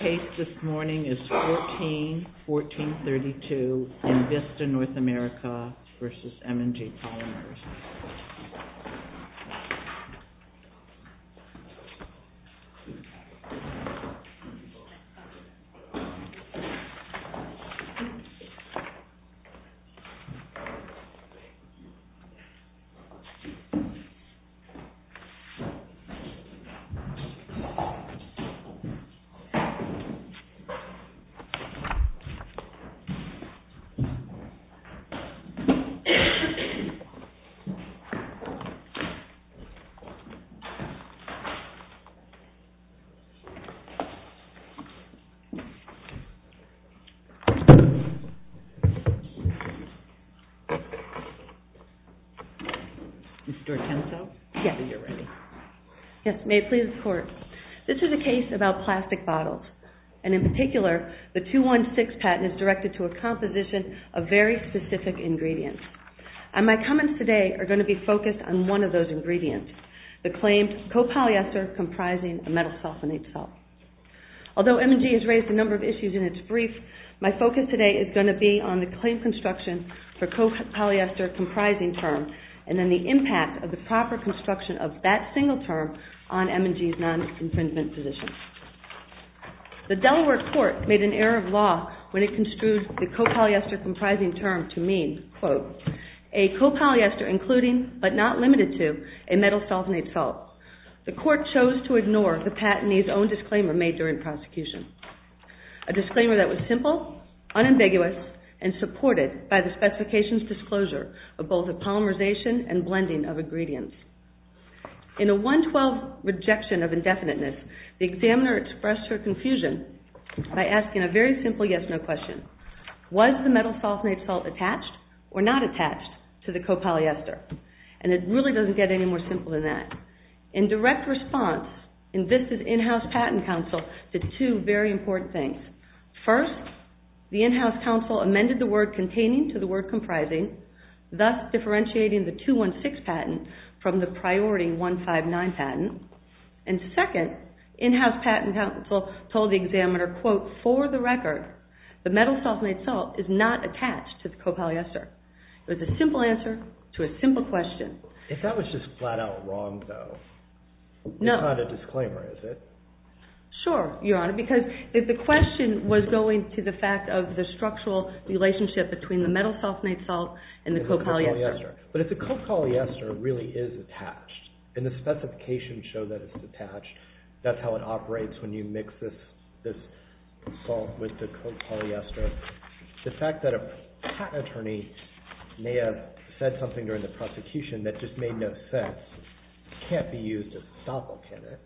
Case this morning is 14-1432 in Vista North America v. M&G Polymers USA. And in particular, the 216 patent is directed to a composition of very specific ingredients. And my comments today are going to be focused on one of those ingredients, the claim co-polyester comprising a metal sulfonate salt. Although M&G has raised a number of issues in its brief, my focus today is going to be on the claim construction for co-polyester comprising term, and then the impact of the The Delaware court made an error of law when it construed the co-polyester comprising term to mean, quote, a co-polyester including, but not limited to, a metal sulfonate salt. The court chose to ignore the patentee's own disclaimer made during prosecution, a disclaimer that was simple, unambiguous, and supported by the specification's disclosure of both a polymerization and blending of ingredients. In a 112 rejection of indefiniteness, the examiner expressed her confusion by asking a very simple yes-no question. Was the metal sulfonate salt attached or not attached to the co-polyester? And it really doesn't get any more simple than that. In direct response, and this is in-house patent counsel, did two very important things. First, the in-house counsel amended the word containing to the word comprising, thus differentiating the 216 patent from the priority 159 patent. And second, in-house patent counsel told the examiner, quote, for the record, the metal sulfonate salt is not attached to the co-polyester. It was a simple answer to a simple question. If that was just flat-out wrong, though, it's not a disclaimer, is it? Sure, Your Honor, because the question was going to the fact of the structural relationship between the metal sulfonate salt and the co-polyester. But if the co-polyester really is attached, and the specifications show that it's attached, that's how it operates when you mix this salt with the co-polyester, the fact that a patent attorney may have said something during the prosecution that just made no sense can't be used as a stop-all, can it?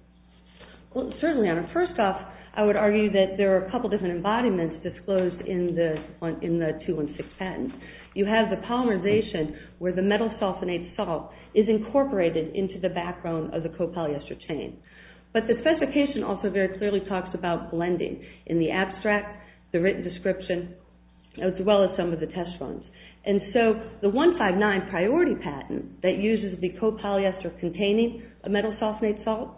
Well, certainly, Your Honor. First off, I would argue that there are a couple different embodiments disclosed in the 216 patent. You have the polymerization where the metal sulfonate salt is incorporated into the background of the co-polyester chain. But the specification also very clearly talks about blending in the abstract, the written description, as well as some of the test runs. And so the 159 priority patent that uses the co-polyester containing a metal sulfonate salt,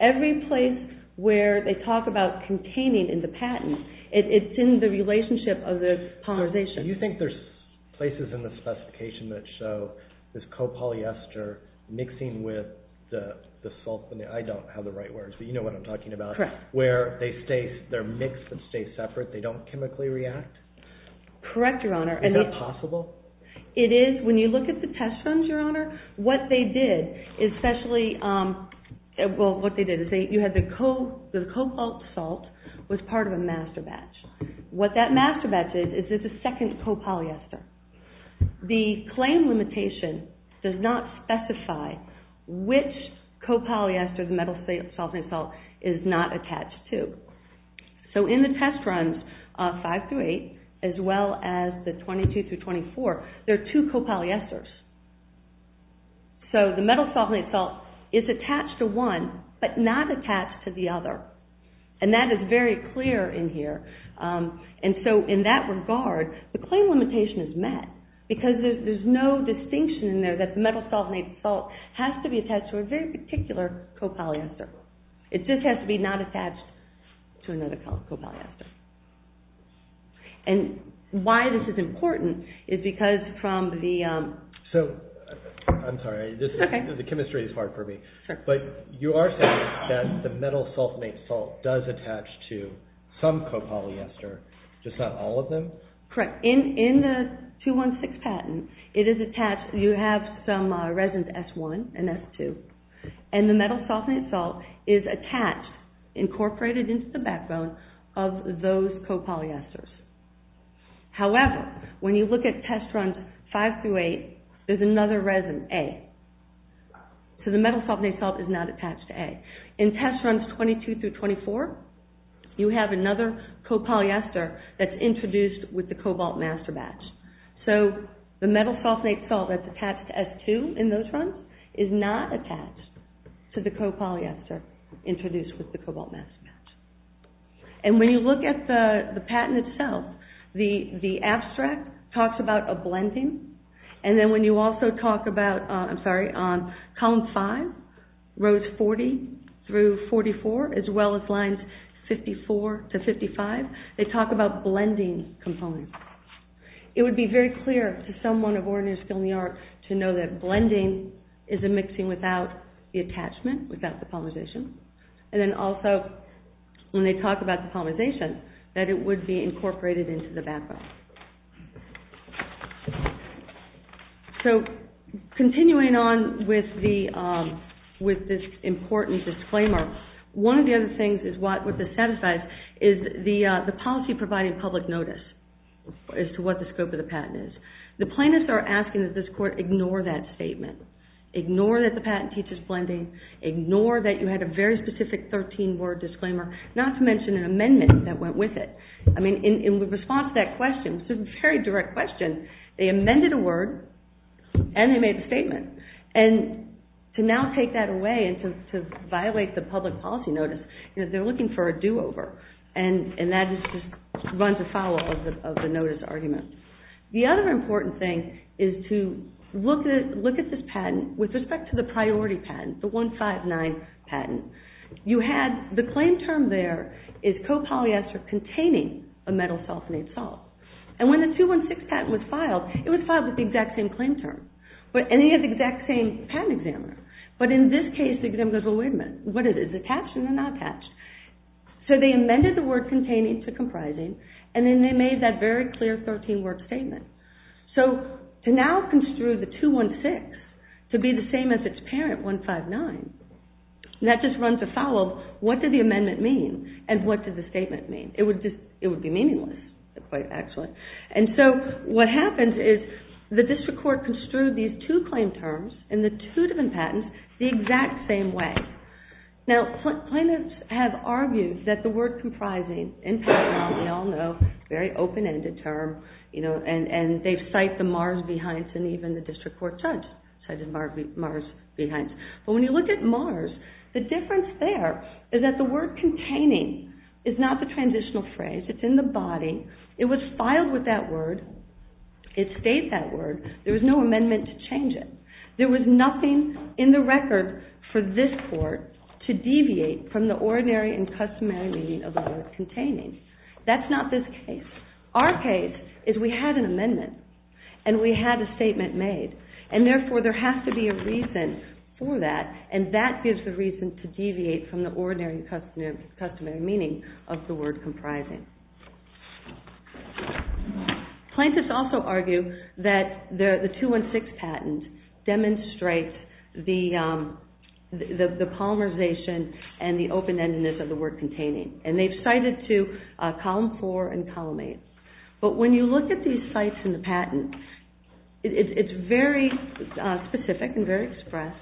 every place where they talk about containing in the patent, it's in the relationship of the polymerization. Do you think there's places in the specification that show this co-polyester mixing with the sulfonate? I don't have the right words, but you know what I'm talking about. Correct. Where they're mixed and stay separate, they don't chemically react? Correct, Your Honor. Is that possible? It is. When you look at the test runs, Your Honor, what they did, especially, well, what they did is you had the co-polyester salt was part of a master batch. What that master batch is, is it's a second co-polyester. The claim limitation does not specify which co-polyester the metal sulfonate salt is not attached to. So in the test runs, five through eight, as well as the 22 through 24, there are two co-polyesters. So the metal sulfonate salt is attached to one, but not attached to the other. And that is very clear in here. And so in that regard, the claim limitation is met because there's no distinction in there that the metal sulfonate salt has to be attached to a very particular co-polyester. It just has to be not attached to another co-polyester. And why this is important is because from the... So, I'm sorry, the chemistry is hard for me. But you are saying that the metal sulfonate salt does attach to some co-polyester, just not all of them? Correct. In the 216 patent, it is attached, you have some resins, S1 and S2, and the metal sulfonate salt is attached, incorporated into the backbone of those co-polyesters. However, when you look at test runs five through eight, there's another resin, A. So the metal sulfonate salt is not attached to A. In test runs 22 through 24, you have another co-polyester that's introduced with the cobalt master batch. So the metal sulfonate salt that's attached to S2 in those runs is not attached to the co-polyester introduced with the cobalt master batch. And when you look at the patent itself, the abstract talks about a blending. And then when you also talk about, I'm sorry, on column five, rows 40 through 44, as well as lines 54 to 55, they talk about blending components. It would be very clear to someone of ordinary skill in the art to know that blending is a mixing without the attachment, without the polymerization. And then also, when they talk about the polymerization, that it would be incorporated into the backbone. So continuing on with this important disclaimer, one of the other things is what this satisfies is the policy providing public notice as to what the scope of the patent is. The plaintiffs are asking that this court ignore that statement, ignore that the patent teaches blending, ignore that you had a very specific 13-word disclaimer, not to mention an amendment that went with it. I mean, in response to that question, a very direct question, they amended a word and they made a statement. And to now take that away and to violate the public policy notice, they're looking for a do-over. And that just runs afoul of the notice argument. The other important thing is to look at this patent with respect to the priority patent, the 159 patent. The claim term there is copolyester containing a metal self-made salt. And when the 216 patent was filed, it was filed with the exact same claim term. And it has the exact same patent examiner. But in this case, the examiner goes, well, wait a minute. What is it? Is it attached? Is it not attached? So they amended the word containing to comprising, and then they made that very clear 13-word statement. So to now construe the 216 to be the same as its parent, 159, that just runs afoul of what did the amendment mean and what did the statement mean. It would be meaningless, actually. And so what happens is the district court construed these two claim terms in the two different patents the exact same way. Now, plaintiffs have argued that the word comprising, in fact, now we all know, very open-ended term, and they cite the Mars v. Hines, and even the district court judge cited Mars v. Hines. But when you look at Mars, the difference there is that the word containing is not the transitional phrase. It's in the body. It was filed with that word. It states that word. There was no amendment to change it. There was nothing in the record for this court to deviate from the ordinary and customary meaning of the word containing. That's not this case. Our case is we had an amendment, and we had a statement made. And therefore, there has to be a reason for that, and that gives the reason to deviate from the ordinary and customary meaning of the word comprising. Plaintiffs also argue that the 216 patent demonstrates the polymerization and the open-endedness of the word containing. And they've cited to Column 4 and Column 8. But when you look at these sites in the patent, it's very specific and very express,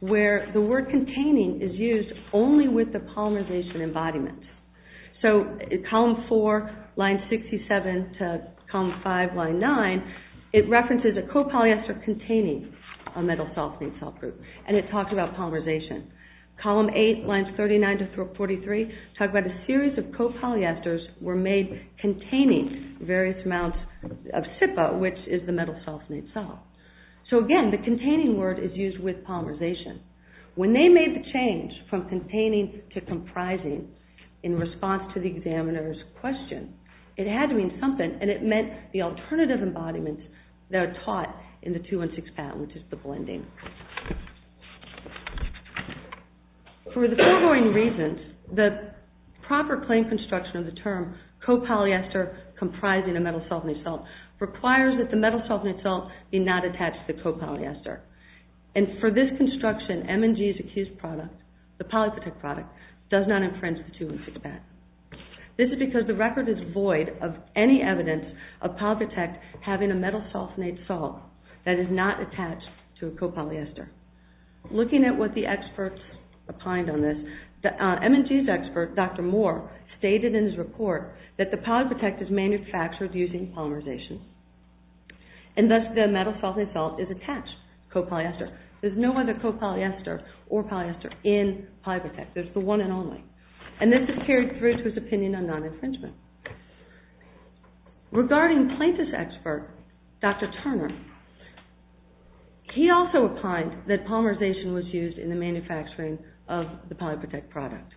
where the word containing is used only with the polymerization embodiment. So Column 4, line 67 to Column 5, line 9, it references a copolyester containing a metal self-made cell group, and it talks about polymerization. Column 8, lines 39 to 43, talk about a series of copolyesters were made containing various amounts of SIPA, which is the metal self-made cell. So again, the containing word is used with polymerization. When they made the change from containing to comprising in response to the examiner's question, it had to mean something, and it meant the alternative embodiment that are taught in the 216 patent, which is the blending. For the foregoing reasons, the proper claim construction of the term copolyester comprising a metal self-made cell requires that the metal self-made cell be not attached to the copolyester. And for this construction, M&G's accused product, the Polyprotect product, does not infringe the 216 patent. This is because the record is void of any evidence of Polyprotect having a metal self-made cell that is not attached to a copolyester. Looking at what the experts opined on this, M&G's expert, Dr. Moore, stated in his report that the Polyprotect is manufactured using polymerization, and thus the metal self-made cell is attached copolyester. There's no other copolyester or polyester in Polyprotect. There's the one and only. And this is carried through to his opinion on non-infringement. Regarding plaintiff's expert, Dr. Turner, he also opined that polymerization was used in the manufacturing of the Polyprotect product.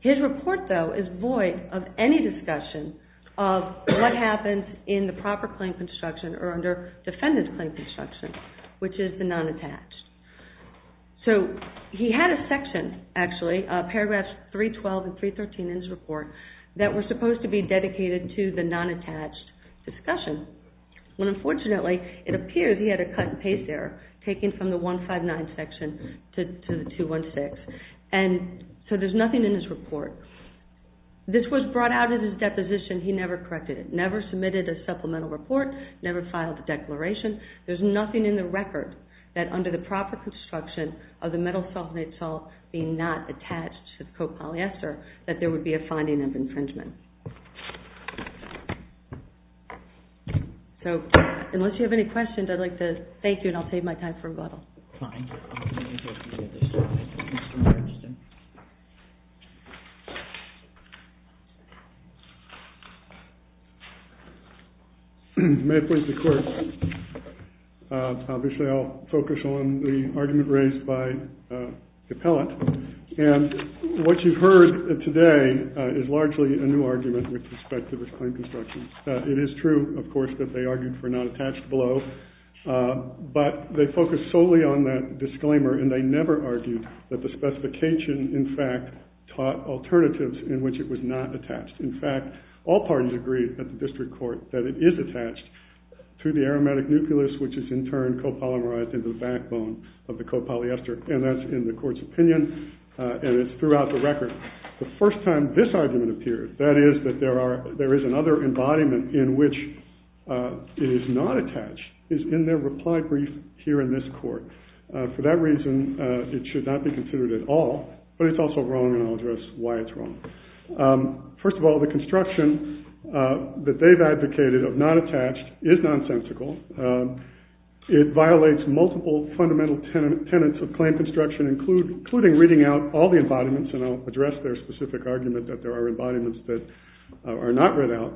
His report, though, is void of any discussion of what happens in the proper claim construction or under defendant's claim construction, which is the non-attached. So, he had a section, actually, paragraphs 312 and 313 in his report, that were supposed to be dedicated to the non-attached discussion, when unfortunately, it appears he had a cut and paste error, taking from the 159 section to the 216. And so there's nothing in his report. This was brought out in his deposition. He never corrected it, never submitted a supplemental report, never filed a declaration. There's nothing in the record that under the proper construction of the metal sulfonate salt being not attached to copolyester, that there would be a finding of infringement. So, unless you have any questions, I'd like to thank you, and I'll save my time for a bottle. Fine. May it please the court. Obviously, I'll focus on the argument raised by the appellant. And what you've heard today is largely a new argument with respect to the claim construction. It is true, of course, that they argued for a non-attached below. But they focused solely on that disclaimer, and they never argued that the specification, in fact, taught alternatives in which it was not attached. In fact, all parties agreed at the district court that it is attached to the aromatic nucleus, which is in turn copolymerized into the backbone of the copolyester. And that's in the court's opinion, and it's throughout the record. The first time this argument appeared, that is, that there is another embodiment in which it is not attached, is in their reply brief here in this court. For that reason, it should not be considered at all. But it's also wrong, and I'll address why it's wrong. First of all, the construction that they've advocated of not attached is nonsensical. It violates multiple fundamental tenets of claim construction, including reading out all the embodiments, and I'll address their specific argument that there are embodiments that are not read out.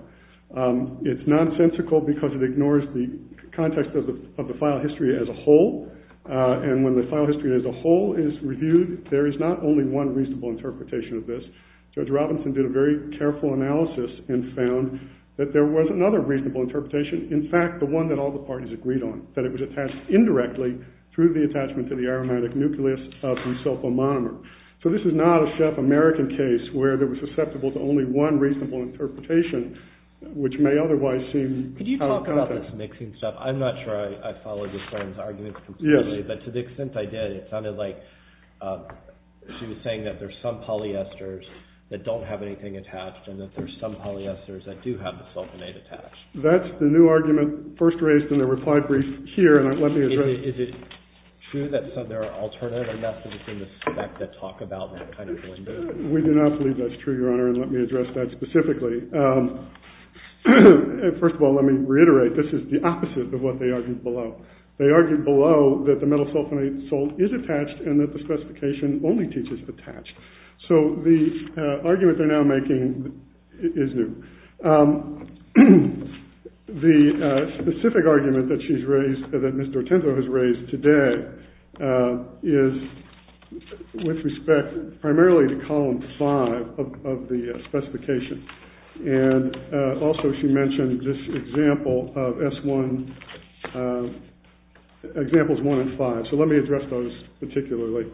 It's nonsensical because it ignores the context of the file history as a whole, and when the file history as a whole is reviewed, there is not only one reasonable interpretation of this. Judge Robinson did a very careful analysis and found that there was another reasonable interpretation, in fact, the one that all the parties agreed on, that it was attached indirectly through the attachment to the aromatic nucleus of the sulfomonomer. So this is not a Chef American case where there was susceptible to only one reasonable interpretation, which may otherwise seem out of context. Could you talk about this mixing stuff? I'm not sure I followed your friend's argument completely, but to the extent I did, it sounded like she was saying that there's some polyesters that don't have anything attached, and that there's some polyesters that do have the sulfonate attached. That's the new argument first raised in the reply brief here, and let me address it. Is it true that there are alternative methods in the spec that talk about that kind of blend in? We do not believe that's true, Your Honor, and let me address that specifically. First of all, let me reiterate, this is the opposite of what they argued below. They argued below that the metal sulfonate salt is attached and that the specification only teaches attached. So the argument they're now making is new. The specific argument that she's raised, that Mr. Otenzo has raised today, is with respect primarily to Column 5 of the specification, and also she mentioned this example of S1, Examples 1 and 5. So let me address those particularly.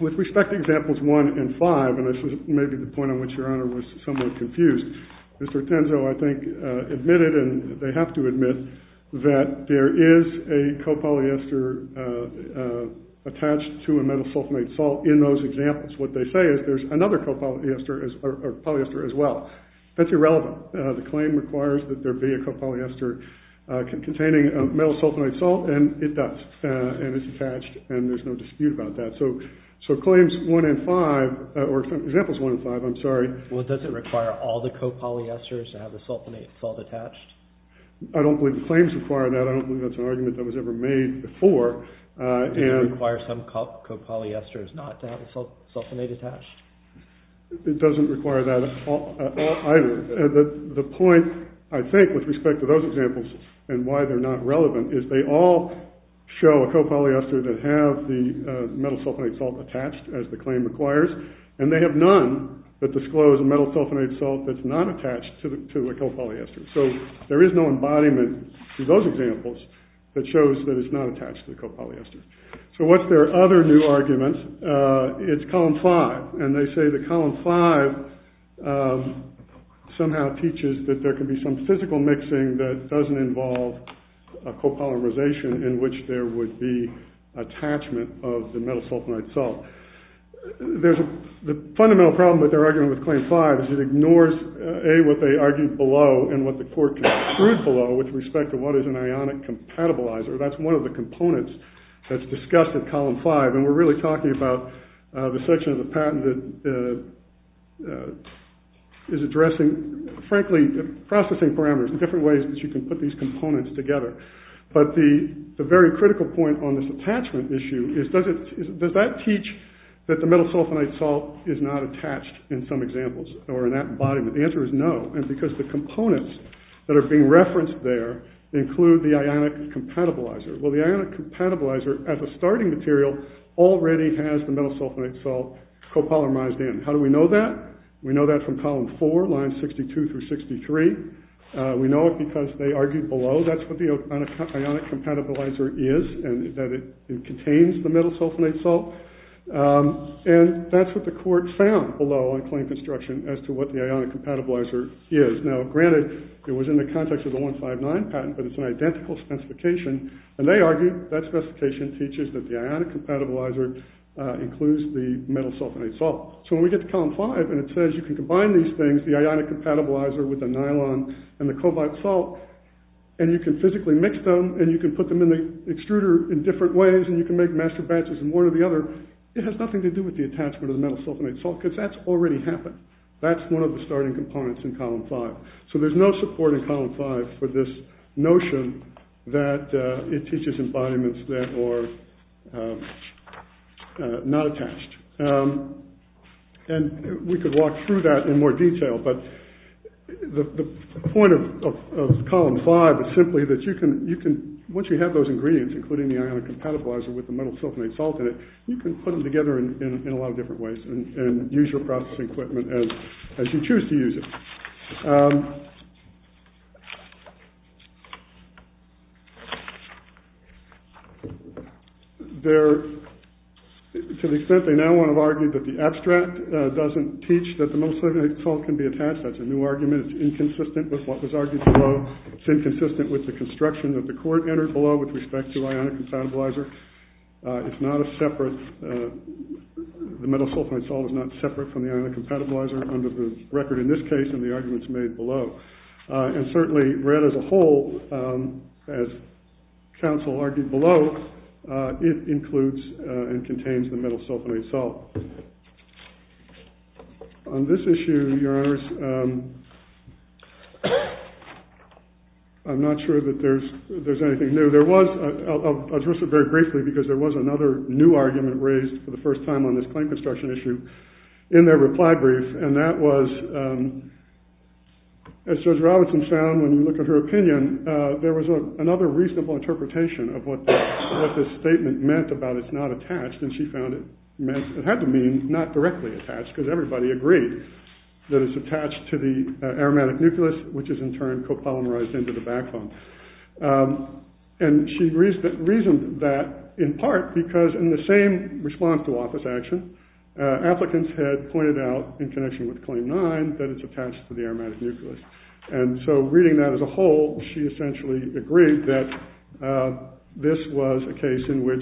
With respect to Examples 1 and 5, and this is maybe the point on which Your Honor was somewhat confused, Mr. Otenzo, I think, admitted, and they have to admit, that there is a copolyester attached to a metal sulfonate salt in those examples. What they say is there's another polyester as well. That's irrelevant. The claim requires that there be a copolyester containing a metal sulfonate salt, and it does. And it's attached, and there's no dispute about that. So Claims 1 and 5, or Examples 1 and 5, I'm sorry. Well, does it require all the copolyesters to have the sulfonate salt attached? I don't believe the claims require that. I don't believe that's an argument that was ever made before. Does it require some copolyesters not to have the sulfonate attached? It doesn't require that either. The point, I think, with respect to those examples, and why they're not relevant, is they all show a copolyester that have the metal sulfonate salt attached, as the claim requires, and they have none that disclose a metal sulfonate salt that's not attached to a copolyester. So there is no embodiment in those examples that shows that it's not attached to the copolyester. So what's their other new argument? It's Column 5, and they say that Column 5 somehow teaches that there can be some physical mixing that doesn't involve copolymerization in which there would be attachment of the metal sulfonate salt. The fundamental problem with their argument with Claim 5 is it ignores, A, what they argued below, and what the court concluded below, with respect to what is an ionic compatibilizer. That's one of the components that's discussed in Column 5, and we're really talking about the section of the patent that is addressing, frankly, processing parameters and different ways that you can put these components together. But the very critical point on this attachment issue is, does that teach that the metal sulfonate salt is not attached in some examples, or in that embodiment? The answer is no, because the components that are being referenced there include the ionic compatibilizer. Well, the ionic compatibilizer, as a starting material, already has the metal sulfonate salt copolymerized in. How do we know that? We know that from Column 4, lines 62 through 63. We know it because they argued below. That's what the ionic compatibilizer is, and that it contains the metal sulfonate salt. And that's what the court found below on claim construction as to what the ionic compatibilizer is. Now, granted, it was in the context of the 159 patent, but it's an identical specification, and they argued that specification teaches that the ionic compatibilizer includes the metal sulfonate salt. So when we get to Column 5, and it says you can combine these things, the ionic compatibilizer with the nylon and the cobalt salt, and you can physically mix them, and you can put them in the extruder in different ways, and you can make master batches in one or the other, it has nothing to do with the attachment of the metal sulfonate salt, because that's already happened. That's one of the starting components in Column 5. So there's no support in Column 5 for this notion that it teaches embodiments that are not attached. And we could walk through that in more detail, but the point of Column 5 is simply that once you have those ingredients, including the ionic compatibilizer with the metal sulfonate salt in it, you can put them together in a lot of different ways and use your processing equipment as you choose to use it. To the extent they now want to argue that the abstract doesn't teach that the metal sulfonate salt can be attached, that's a new argument. It's inconsistent with what was argued below. It's inconsistent with the construction that the court entered below with respect to ionic compatibilizer. It's not a separate, the metal sulfonate salt is not separate from the ionic compatibilizer under the record in this case and the arguments made below. And certainly read as a whole, as counsel argued below, it includes and contains the metal sulfonate salt. On this issue, your honors, I'm not sure that there's anything new. There was, I'll address it very briefly because there was another new argument raised for the first time on this claim construction issue in their reply brief and that was, as Judge Robinson found when you look at her opinion, there was another reasonable interpretation of what this statement meant about it's not attached and she found it meant, it had to mean not directly attached because everybody agreed that it's attached to the aromatic nucleus, which is in turn copolymerized into the backbone. And she reasoned that in part because in the same response to office action, applicants had pointed out in connection with claim nine that it's attached to the aromatic nucleus and so reading that as a whole, she essentially agreed that this was a case in which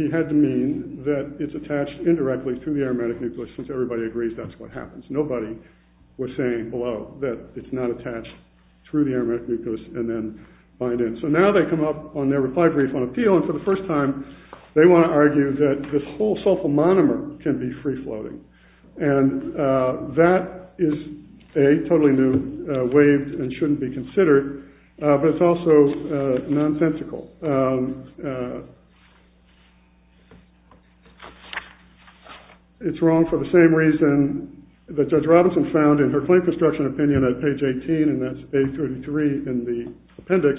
he had to mean that it's attached indirectly to the aromatic nucleus since everybody agrees that's what happens. Nobody was saying below that it's not attached through the aromatic nucleus and then bind in. So now they come up on their reply brief on appeal and for the first time, they want to argue that this whole sulfomonomer can be free floating and that is a totally new way and shouldn't be considered, but it's also nonsensical. It's wrong for the same reason that Judge Robinson found in her claim construction opinion at page 18 and that's page 33 in the appendix.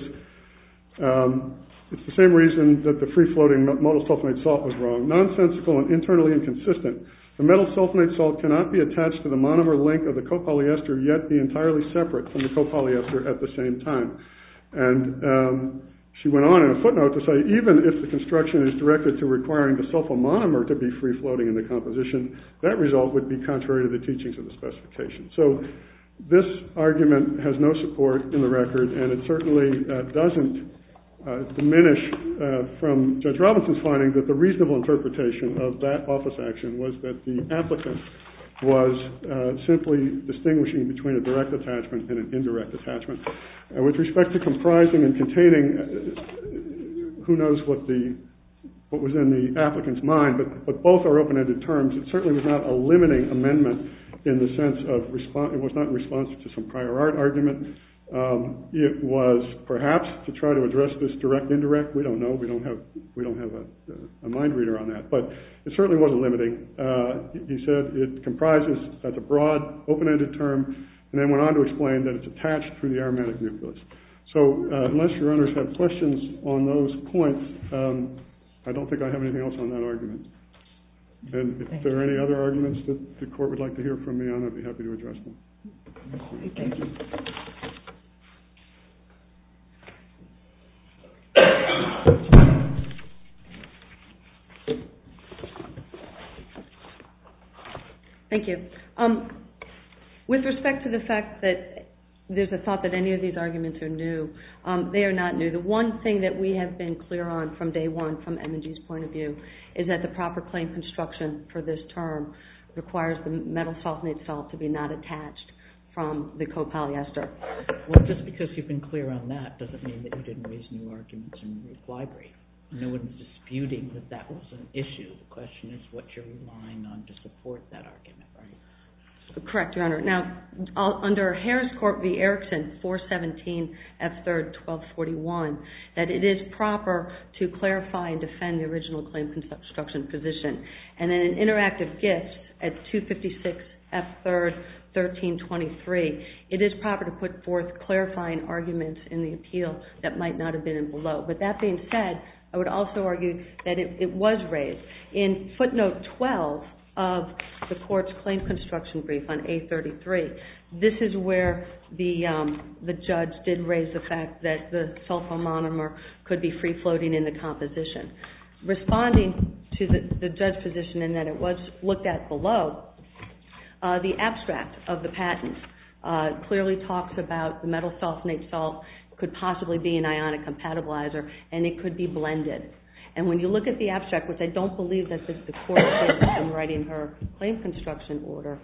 It's the same reason that the free floating metal sulfonate salt was wrong, nonsensical and internally inconsistent. The metal sulfonate salt cannot be attached to the monomer link of the copolyester yet be entirely separate from the copolyester at the same time. And she went on in a footnote to say even if the construction is directed to requiring the sulfomonomer to be free floating in the composition, that result would be contrary to the teachings of the specification. So this argument has no support in the record and it certainly doesn't diminish from Judge Robinson's finding that the reasonable interpretation of that office action was that the applicant was simply distinguishing between a direct attachment and an indirect attachment. With respect to comprising and containing, who knows what was in the applicant's mind, but both are open ended terms. It certainly was not a limiting amendment in the sense of it was not in response to some prior art argument. It was perhaps to try to address this direct indirect. We don't know. We don't have a mind reader on that, but it certainly wasn't limiting. He said it comprises, that's a broad open ended term, and then went on to explain that it's attached to the aromatic nucleus. So unless your honors have questions on those points, I don't think I have anything else on that argument. And if there are any other arguments that the court would like to hear from me, I'd be happy to address them. Thank you. Thank you. With respect to the fact that there's a thought that any of these arguments are new, they are not new. The one thing that we have been clear on from day one from M&G's point of view is that the proper claim construction for this term requires the metal sulfonate salt to be not attached from the co-polyester. Well, just because you've been clear on that doesn't mean that you didn't raise new arguments in the library. No one is disputing that that was an issue. The question is what you're relying on to support that argument, right? Correct, your honor. Now, under Harris Court v. Erickson, 417 F. 3rd, 1241, that it is proper to clarify and defend the original claim construction position. And in an interactive gift at 256 F. 3rd, 1323, it is proper to put forth clarifying arguments in the appeal that might not have been below. With that being said, I would also argue that it was raised. In footnote 12 of the court's claim construction brief on A33, this is where the judge did raise the fact that the sulfomonomer could be free-floating in the composition. Responding to the judge's position in that it was looked at below, the abstract of the patent clearly talks about the metal sulfonate salt could possibly be an ionic compatibilizer and it could be blended. And when you look at the abstract, which I don't believe that just the court did in writing her claim construction order,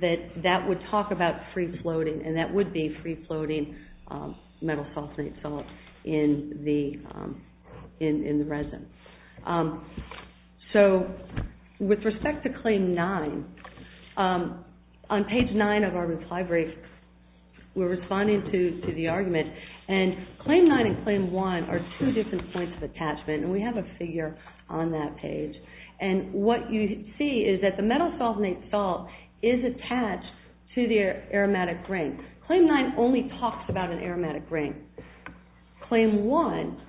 that that would talk about free-floating and that would be free-floating metal sulfonate salt in the resin. So with respect to Claim 9, on page 9 of our brief, we're responding to the argument. And Claim 9 and Claim 1 are two different points of attachment. And we have a figure on that page. And what you see is that the metal sulfonate salt is attached to the aromatic grain. Claim 9 only talks about an aromatic grain. Claim 1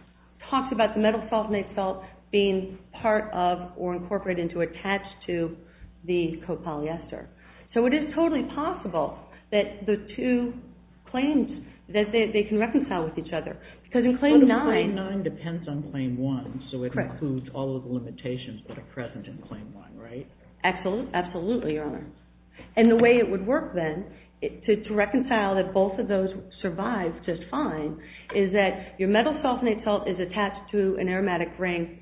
talks about the metal sulfonate salt being part of or incorporated into or attached to the copolyester. So it is totally possible that the two claims, that they can reconcile with each other. But Claim 9 depends on Claim 1, so it includes all of the limitations that are present in Claim 1, right? Absolutely, Your Honor. And the way it would work then to reconcile that both of those survive just fine is that your metal sulfonate salt is attached to an aromatic grain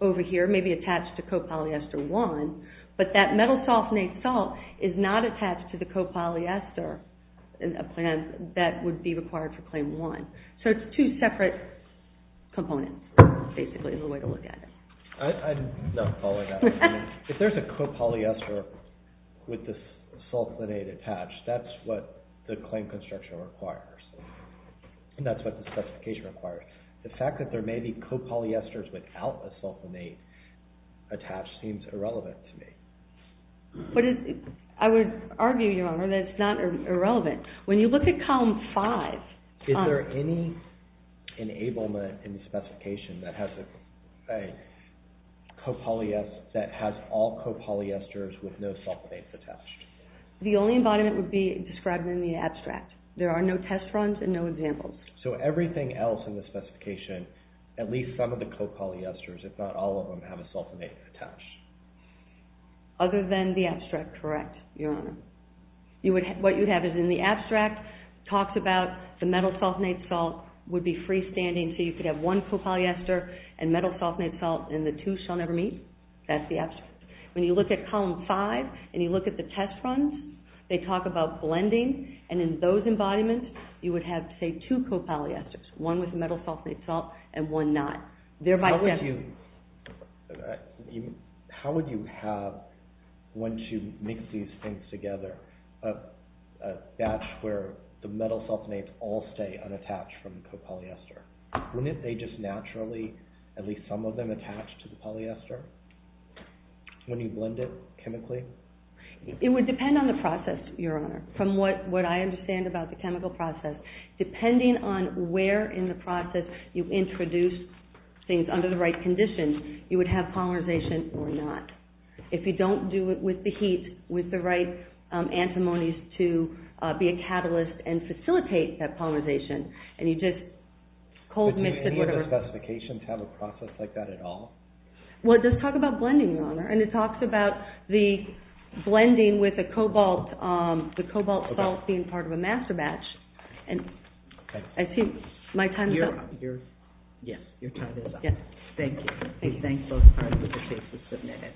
over here, maybe attached to copolyester 1, but that metal sulfonate salt is not attached to the copolyester that would be required for Claim 1. So it's two separate components, basically, is the way to look at it. I'm not following that. If there's a copolyester with the sulfonate attached, that's what the claim construction requires. And that's what the specification requires. The fact that there may be copolyesters without a sulfonate attached seems irrelevant to me. I would argue, Your Honor, that it's not irrelevant. When you look at Column 5... Is there any enablement in the specification that has all copolyesters with no sulfonates attached? The only embodiment would be described in the abstract. There are no test runs and no examples. So everything else in the specification, at least some of the copolyesters, if not all of them, have a sulfonate attached? Other than the abstract, correct, Your Honor. What you have is in the abstract, it talks about the metal sulfonate salt would be freestanding. So you could have one copolyester and metal sulfonate salt, and the two shall never meet. That's the abstract. When you look at Column 5 and you look at the test runs, they talk about blending. And in those embodiments, you would have, say, two copolyesters, one with metal sulfonate salt and one not. How would you have, once you mix these things together, a batch where the metal sulfonates all stay unattached from the copolyester? Wouldn't they just naturally, at least some of them, attach to the polyester when you blend it chemically? It would depend on the process, Your Honor. From what I understand about the chemical process, depending on where in the process you introduce things under the right conditions, you would have polymerization or not. If you don't do it with the heat, with the right antimonies to be a catalyst and facilitate that polymerization, and you just cold mix it. Do any of the specifications have a process like that at all? Well, it does talk about blending, Your Honor. And it talks about the blending with the cobalt salt being part of a master batch. I think my time's up. Yes, your time is up. Thank you. Thank you. I thank both parties for the cases submitted.